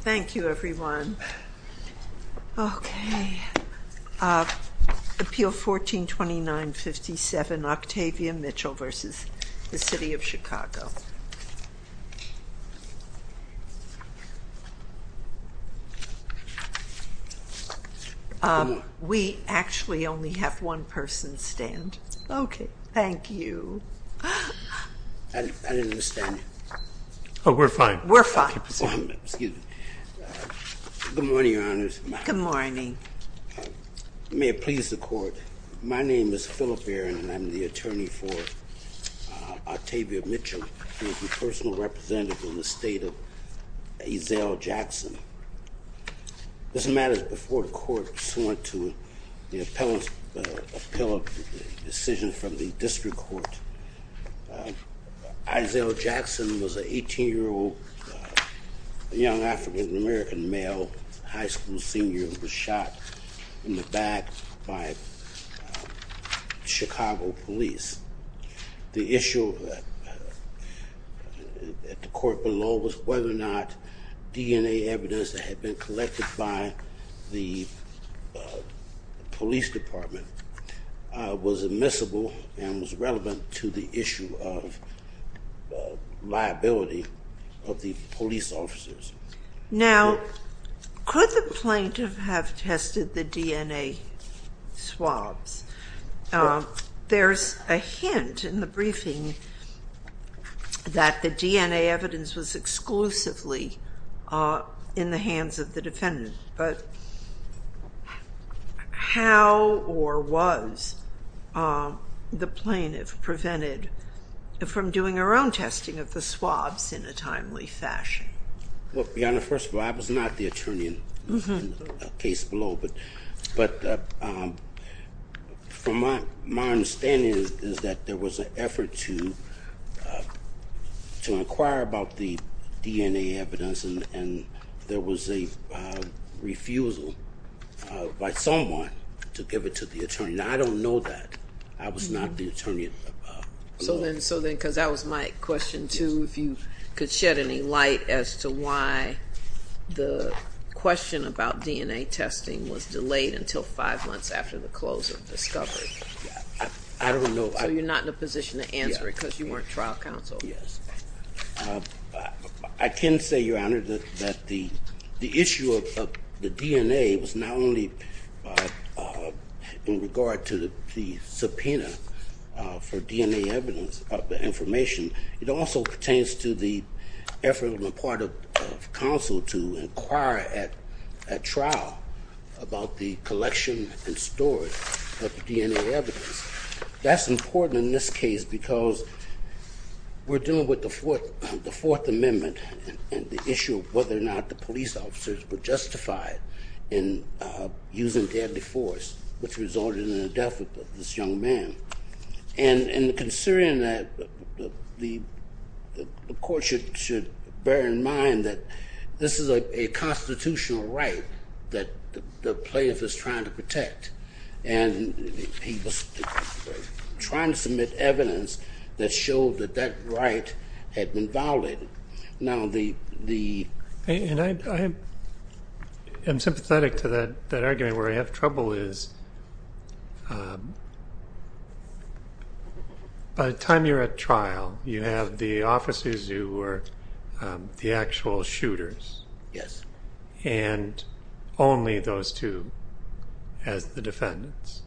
Thank you, everyone. Okay. Appeal 1429-57, Octavia Mitchell v. The City of Chicago. We actually only have one person stand. Okay, thank you. I didn't understand. Oh, we're fine. We're fine. Excuse me. Good morning, Your Honors. Good morning. May it please the Court, my name is Phillip Aaron, and I'm the attorney for Octavia Mitchell. I'm the personal representative in the state of Isel Jackson. This matter is before the Court, pursuant to the appellate decision from the District Court. Isel Jackson was an 18-year-old young African-American male, high school senior, who was shot in the back by Chicago police. The issue at the court below was whether or not DNA evidence that had been collected by the police department was admissible and was relevant to the issue of liability of the police officers. Now, could the plaintiff have tested the DNA swabs? There's a hint in the briefing that the DNA evidence was exclusively in the hands of the defendant, but how or was the plaintiff prevented from doing her own testing of the swabs in a timely fashion? Well, Your Honor, first of all, I was not the attorney in the case below, but from my understanding is that there was an effort to inquire about the DNA evidence and there was a refusal by someone to give it to the attorney. Now, I don't know that. I was not the attorney below. So then, because that was my question, too, if you could shed any light as to why the question about DNA testing was delayed until five months after the close of the discovery. I don't know. So you're not in a position to answer it because you weren't trial counsel? Yes. I can say, Your Honor, that the issue of the DNA was not only in regard to the subpoena for DNA evidence of information, it also pertains to the effort on the part of counsel to inquire at trial about the collection and storage of DNA evidence. That's important in this case because we're dealing with the Fourth Amendment and the issue of whether or not the police officers were justified in using deadly force, which resulted in the death of this young man. And considering that, the court should bear in mind that this is a constitutional right that the plaintiff is trying to protect. And he was trying to submit evidence that showed that that right had been violated. Now, the... And I am sympathetic to that argument where I have trouble is by the time you're at trial, you have the officers who were the actual shooters. Yes. And only those two as the defendants.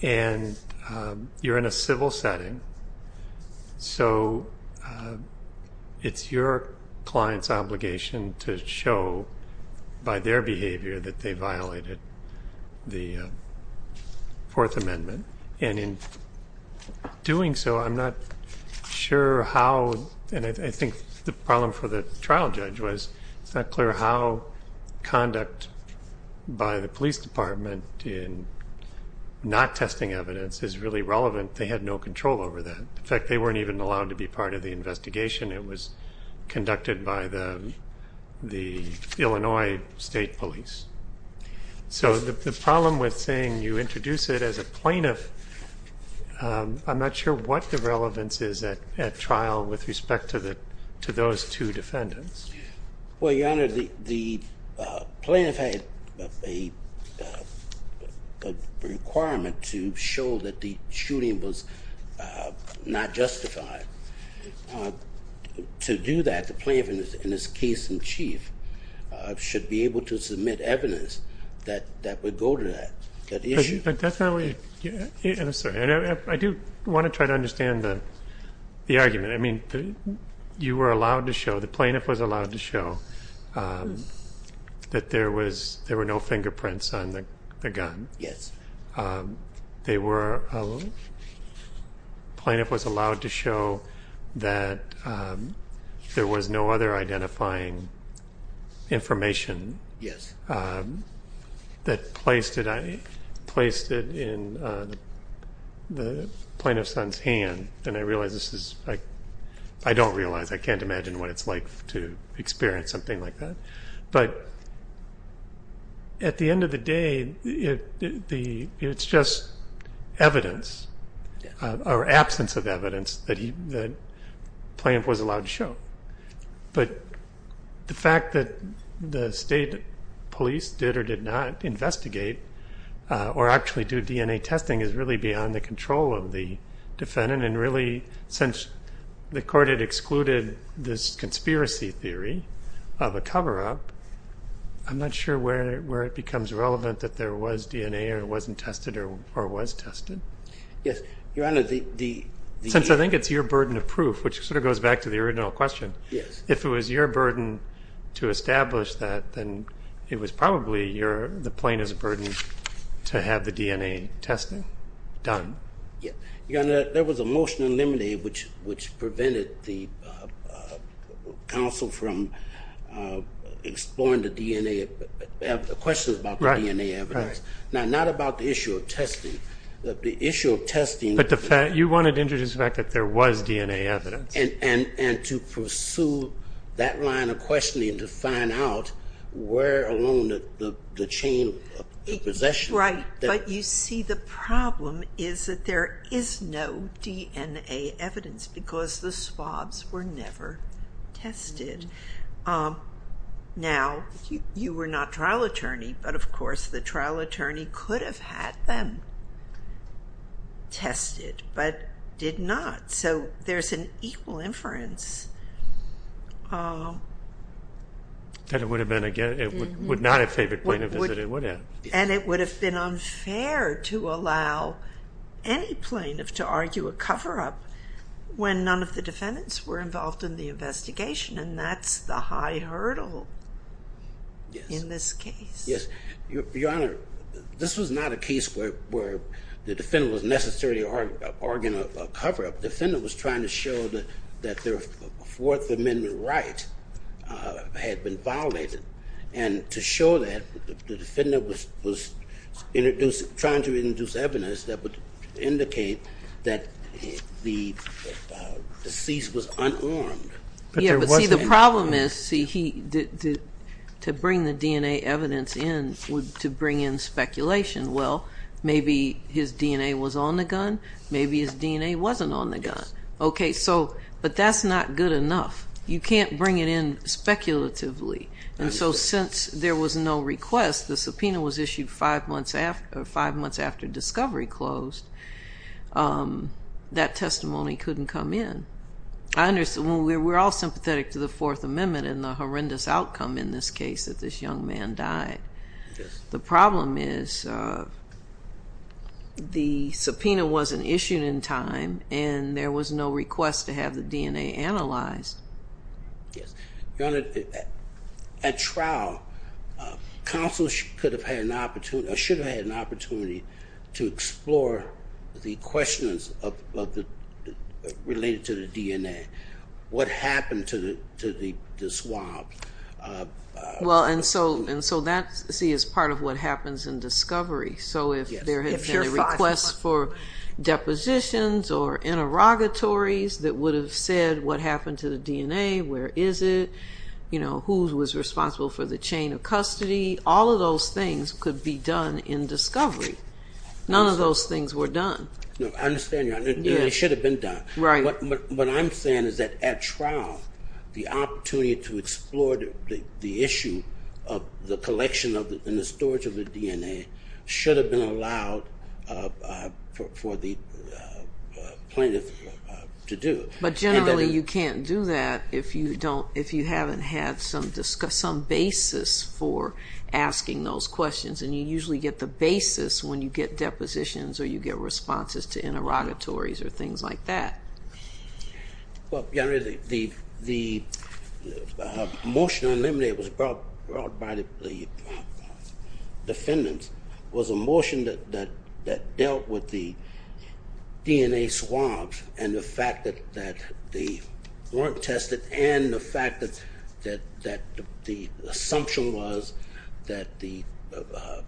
And you're in a civil setting, so it's your client's obligation to show by their behavior that they violated the Fourth Amendment. And in doing so, I'm not sure how... And I think the problem for the trial judge was it's not clear how conduct by the police department in not testing evidence is really relevant. They had no control over that. In fact, they weren't even allowed to be part of the investigation. It was conducted by the Illinois State Police. So the problem with saying you introduce it as a plaintiff, I'm not sure what the relevance is at trial with respect to those two defendants. Well, Your Honor, the plaintiff had a requirement to show that the shooting was not justified. To do that, the plaintiff in his case in chief should be able to submit evidence that would go to that issue. I do want to try to understand the argument. I mean, you were allowed to show, the plaintiff was allowed to show that there were no fingerprints on the gun. Yes. The plaintiff was allowed to show that there was no other identifying information that placed it in the plaintiff's son's hand. And I realize this is, I don't realize, I can't imagine what it's like to experience something like that. But at the end of the day, it's just evidence or absence of evidence that the plaintiff was allowed to show. But the fact that the state police did or did not investigate or actually do DNA testing is really beyond the control of the defendant. Since the court had excluded this conspiracy theory of a cover-up, I'm not sure where it becomes relevant that there was DNA or it wasn't tested or was tested. Yes. Your Honor, the... Since I think it's your burden of proof, which sort of goes back to the original question. Yes. If it was your burden to establish that, then it was probably the plaintiff's burden to have the DNA testing done. Your Honor, there was a motion eliminated which prevented the counsel from exploring the DNA, the questions about the DNA evidence. Right, right. Now, not about the issue of testing. The issue of testing... But the fact, you wanted to introduce the fact that there was DNA evidence. And to pursue that line of questioning to find out where along the chain of possession... ...is that there is no DNA evidence because the swabs were never tested. Now, you were not trial attorney, but of course the trial attorney could have had them tested, but did not. So there's an equal inference. That it would not have favored plaintiff as it would have. And it would have been unfair to allow any plaintiff to argue a cover-up when none of the defendants were involved in the investigation. And that's the high hurdle in this case. Yes. Your Honor, this was not a case where the defendant was necessarily arguing a cover-up. The defendant was trying to show that their Fourth Amendment right had been violated. And to show that, the defendant was trying to introduce evidence that would indicate that the deceased was unarmed. Yeah, but see, the problem is, to bring the DNA evidence in, to bring in speculation. Well, maybe his DNA was on the gun, maybe his DNA wasn't on the gun. Okay, so, but that's not good enough. You can't bring it in speculatively. And so since there was no request, the subpoena was issued five months after discovery closed. That testimony couldn't come in. We're all sympathetic to the Fourth Amendment and the horrendous outcome in this case that this young man died. The problem is, the subpoena wasn't issued in time, and there was no request to have the DNA analyzed. Yes. Your Honor, at trial, counsel should have had an opportunity to explore the questions related to the DNA. What happened to the swab? Well, and so that, see, is part of what happens in discovery. So if there had been a request for depositions or interrogatories that would have said what happened to the DNA, where is it, you know, who was responsible for the chain of custody, all of those things could be done in discovery. None of those things were done. No, I understand, Your Honor. They should have been done. Right. What I'm saying is that at trial, the opportunity to explore the issue of the collection and the storage of the DNA should have been allowed for the plaintiff to do. But generally you can't do that if you haven't had some basis for asking those questions, and you usually get the basis when you get depositions or you get responses to interrogatories or things like that. Well, Your Honor, the motion on limine was brought by the defendants, was a motion that dealt with the DNA swabs and the fact that they weren't tested and the fact that the assumption was that the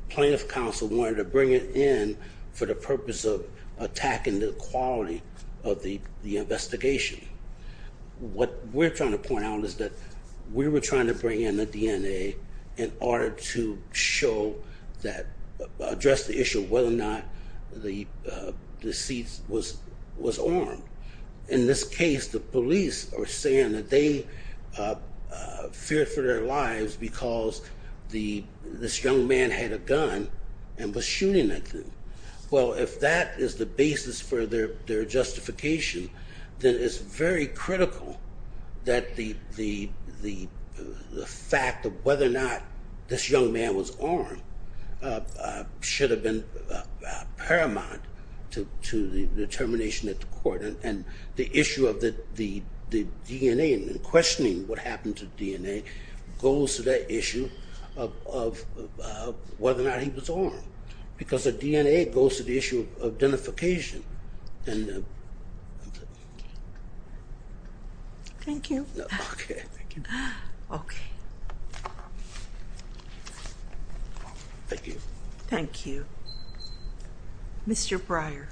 plaintiff counsel wanted to bring it in for the purpose of attacking the quality of the investigation. What we're trying to point out is that we were trying to bring in the DNA in order to show that, address the issue of whether or not the deceit was armed. In this case, the police are saying that they feared for their lives because this young man had a gun and was shooting at them. Well, if that is the basis for their justification, then it's very critical that the fact of whether or not this young man was armed should have been paramount to the determination at the court. And the issue of the DNA and questioning what happened to the DNA goes to that issue of whether or not he was armed because the DNA goes to the issue of identification. Thank you. Okay. Okay. Thank you. Thank you. Mr. Breyer.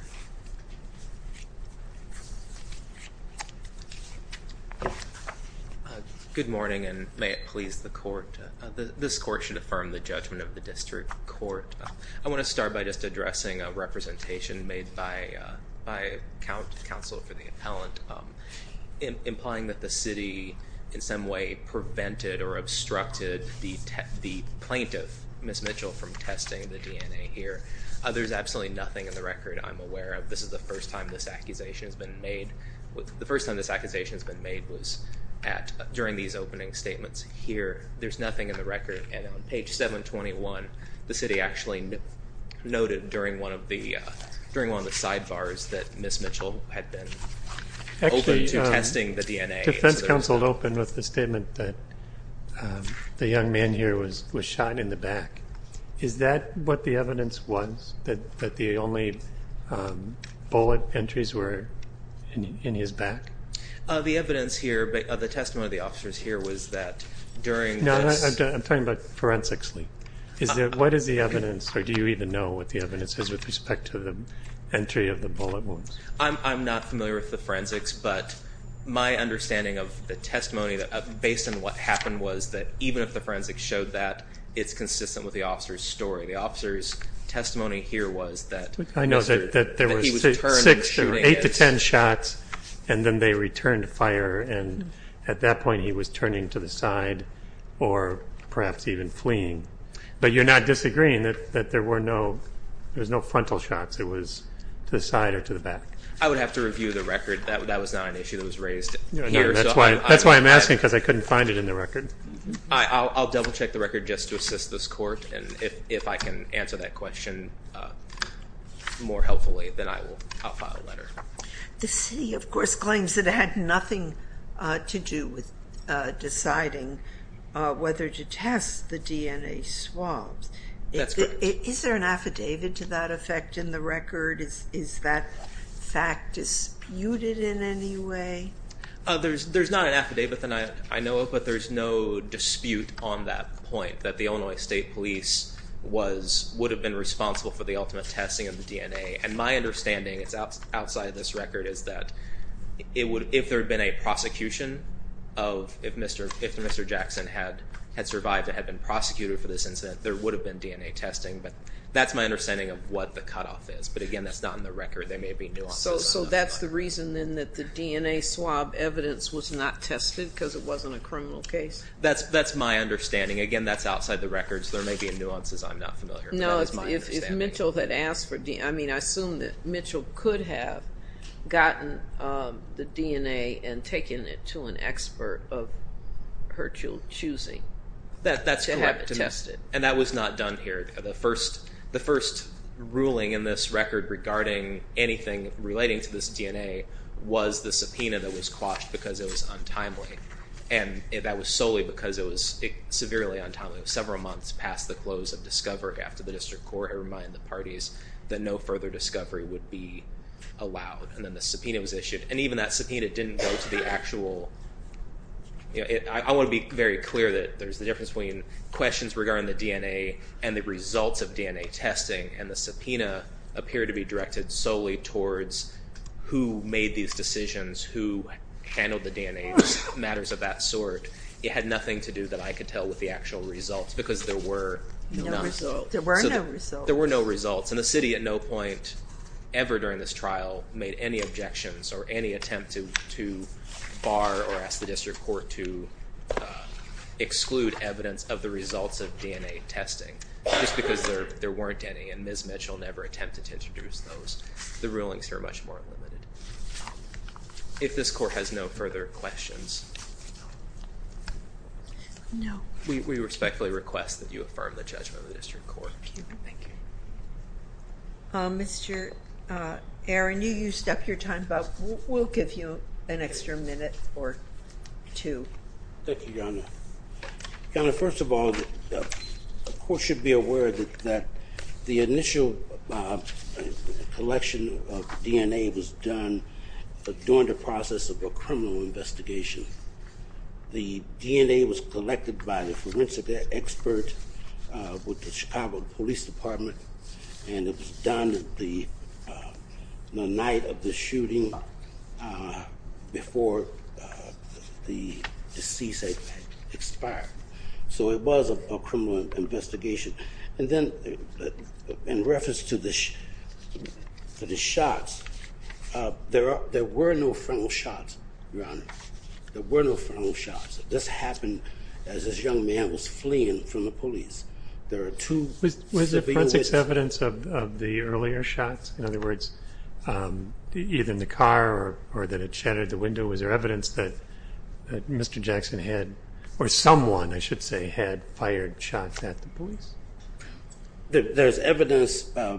Good morning and may it please the court. This court should affirm the judgment of the district court. I want to start by just addressing a representation made by counsel for the appellant implying that the city in some way prevented or obstructed the plaintiff, Ms. Mitchell, from testing the DNA here. There's absolutely nothing in the record I'm aware of. This is the first time this accusation has been made. The first time this accusation has been made was during these opening statements here. There's nothing in the record. And on page 721, the city actually noted during one of the sidebars that Ms. Mitchell had been open to testing the DNA. Defense counsel opened with the statement that the young man here was shot in the back. Is that what the evidence was, that the only bullet entries were in his back? The evidence here, the testimony of the officers here was that during this I'm talking about forensically. What is the evidence, or do you even know what the evidence is with respect to the entry of the bullet wounds? I'm not familiar with the forensics, but my understanding of the testimony based on what happened was that even if the forensics showed that, it's consistent with the officer's story. The officer's testimony here was that he was turned and shooting. And then they returned fire, and at that point he was turning to the side or perhaps even fleeing. But you're not disagreeing that there were no frontal shots. It was to the side or to the back. I would have to review the record. That was not an issue that was raised here. That's why I'm asking, because I couldn't find it in the record. I'll double-check the record just to assist this court. And if I can answer that question more helpfully, then I will file a letter. The city, of course, claims it had nothing to do with deciding whether to test the DNA swabs. That's correct. Is there an affidavit to that effect in the record? Is that fact disputed in any way? There's not an affidavit that I know of, but there's no dispute on that point, that the Illinois State Police would have been responsible for the ultimate testing of the DNA. And my understanding, it's outside this record, is that if there had been a prosecution, if Mr. Jackson had survived and had been prosecuted for this incident, there would have been DNA testing. But that's my understanding of what the cutoff is. But, again, that's not in the record. There may be nuances. So that's the reason, then, that the DNA swab evidence was not tested because it wasn't a criminal case? That's my understanding. Again, that's outside the record, so there may be nuances I'm not familiar with. No, if Mitchell had asked for DNA, I mean, I assume that Mitchell could have gotten the DNA and taken it to an expert of her choosing to have it tested. And that was not done here. The first ruling in this record regarding anything relating to this DNA was the subpoena that was quashed because it was untimely. And that was solely because it was severely untimely. It was several months past the close of discovery after the district court had reminded the parties that no further discovery would be allowed. And then the subpoena was issued. And even that subpoena didn't go to the actual, you know, I want to be very clear that there's the difference between questions regarding the DNA and the results of DNA testing. And the subpoena appeared to be directed solely towards who made these decisions, who handled the DNA, matters of that sort. It had nothing to do that I could tell with the actual results because there were none. No results. There were no results. There were no results. And the city at no point ever during this trial made any objections or any attempt to bar or ask the district court to exclude evidence of the results of DNA testing just because there weren't any. And Ms. Mitchell never attempted to introduce those. The rulings here are much more limited. If this court has no further questions. No. We respectfully request that you affirm the judgment of the district court. Thank you. Mr. Aaron, you used up your time, but we'll give you an extra minute or two. Thank you, Your Honor. Your Honor, first of all, the court should be aware that the initial collection of DNA was done during the process of a criminal investigation. The DNA was collected by the forensic expert with the Chicago Police Department, and it was done the night of the shooting before the deceased expired. So it was a criminal investigation. And then in reference to the shots, there were no frontal shots, Your Honor. There were no frontal shots. This happened as this young man was fleeing from the police. Was there forensics evidence of the earlier shots? In other words, either in the car or that it shattered the window, was there evidence that Mr. Jackson had, or someone, I should say, had fired shots at the police? There's evidence by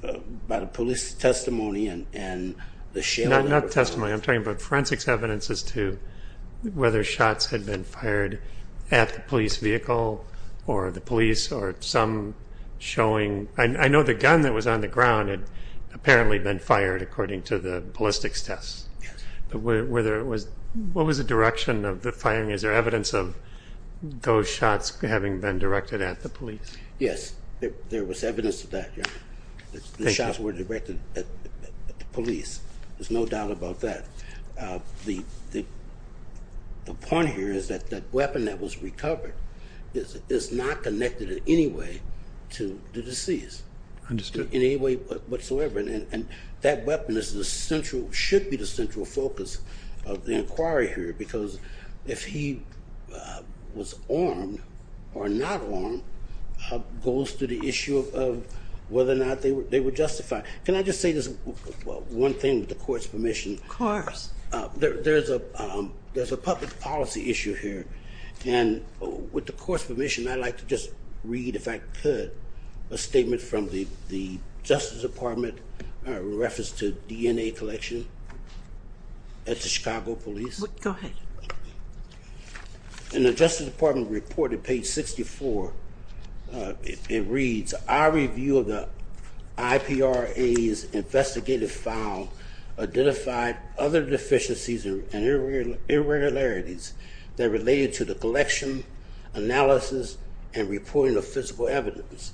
the police testimony and the sheriff. Not testimony. I'm talking about forensics evidence as to whether shots had been fired at the police vehicle or the police or some showing. I know the gun that was on the ground had apparently been fired according to the ballistics test. Yes. But what was the direction of the firing? Is there evidence of those shots having been directed at the police? Yes, there was evidence of that, Your Honor. Thank you. The shots were directed at the police. There's no doubt about that. The point here is that that weapon that was recovered is not connected in any way to the deceased. Understood. In any way whatsoever. And that weapon is the central, should be the central focus of the inquiry here because if he was armed or not armed, goes to the issue of whether or not they were justified. Can I just say this one thing with the Court's permission? Of course. There's a public policy issue here. And with the Court's permission, I'd like to just read, if I could, a statement from the Justice Department in reference to DNA collection at the Chicago Police. Go ahead. In the Justice Department report at page 64, it reads, our review of the IPRA's investigative file identified other deficiencies and irregularities that related to the collection, analysis, and reporting of physical evidence.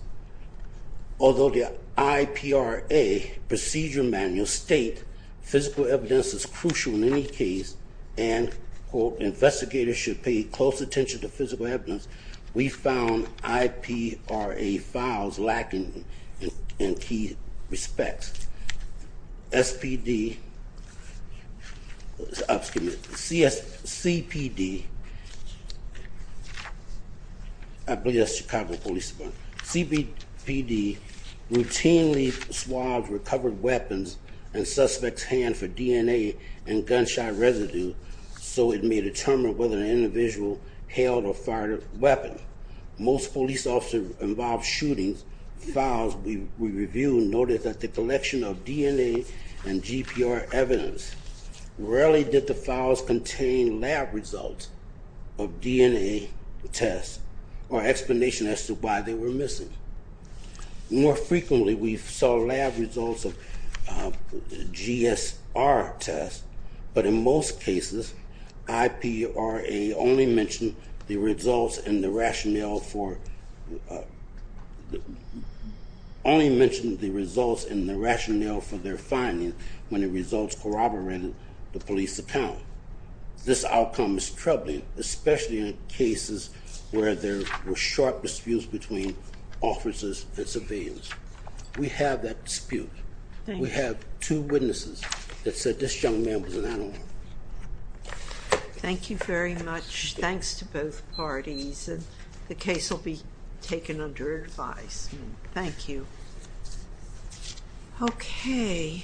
Although the IPRA procedure manual state physical evidence is crucial in any case and, quote, investigators should pay close attention to physical evidence, we found IPRA files lacking in key respects. SPD, excuse me, CPD, I believe that's Chicago Police Department, CPD routinely swabs recovered weapons in suspect's hand for DNA and gunshot residue so it may determine whether an individual held or fired a weapon. Most police officers involved shootings. Files we reviewed noted that the collection of DNA and GPR evidence rarely did the files contain lab results of DNA tests or explanation as to why they were missing. More frequently we saw lab results of GSR tests, but in most cases IPRA only mentioned the results in the rationale for their finding when the results corroborated the police account. This outcome is troubling, especially in cases where there were sharp disputes between officers and surveillance. We have that dispute. We have two witnesses that said this young man was an animal. Thank you very much. Thanks to both parties. The case will be taken under advice. Thank you. Okay.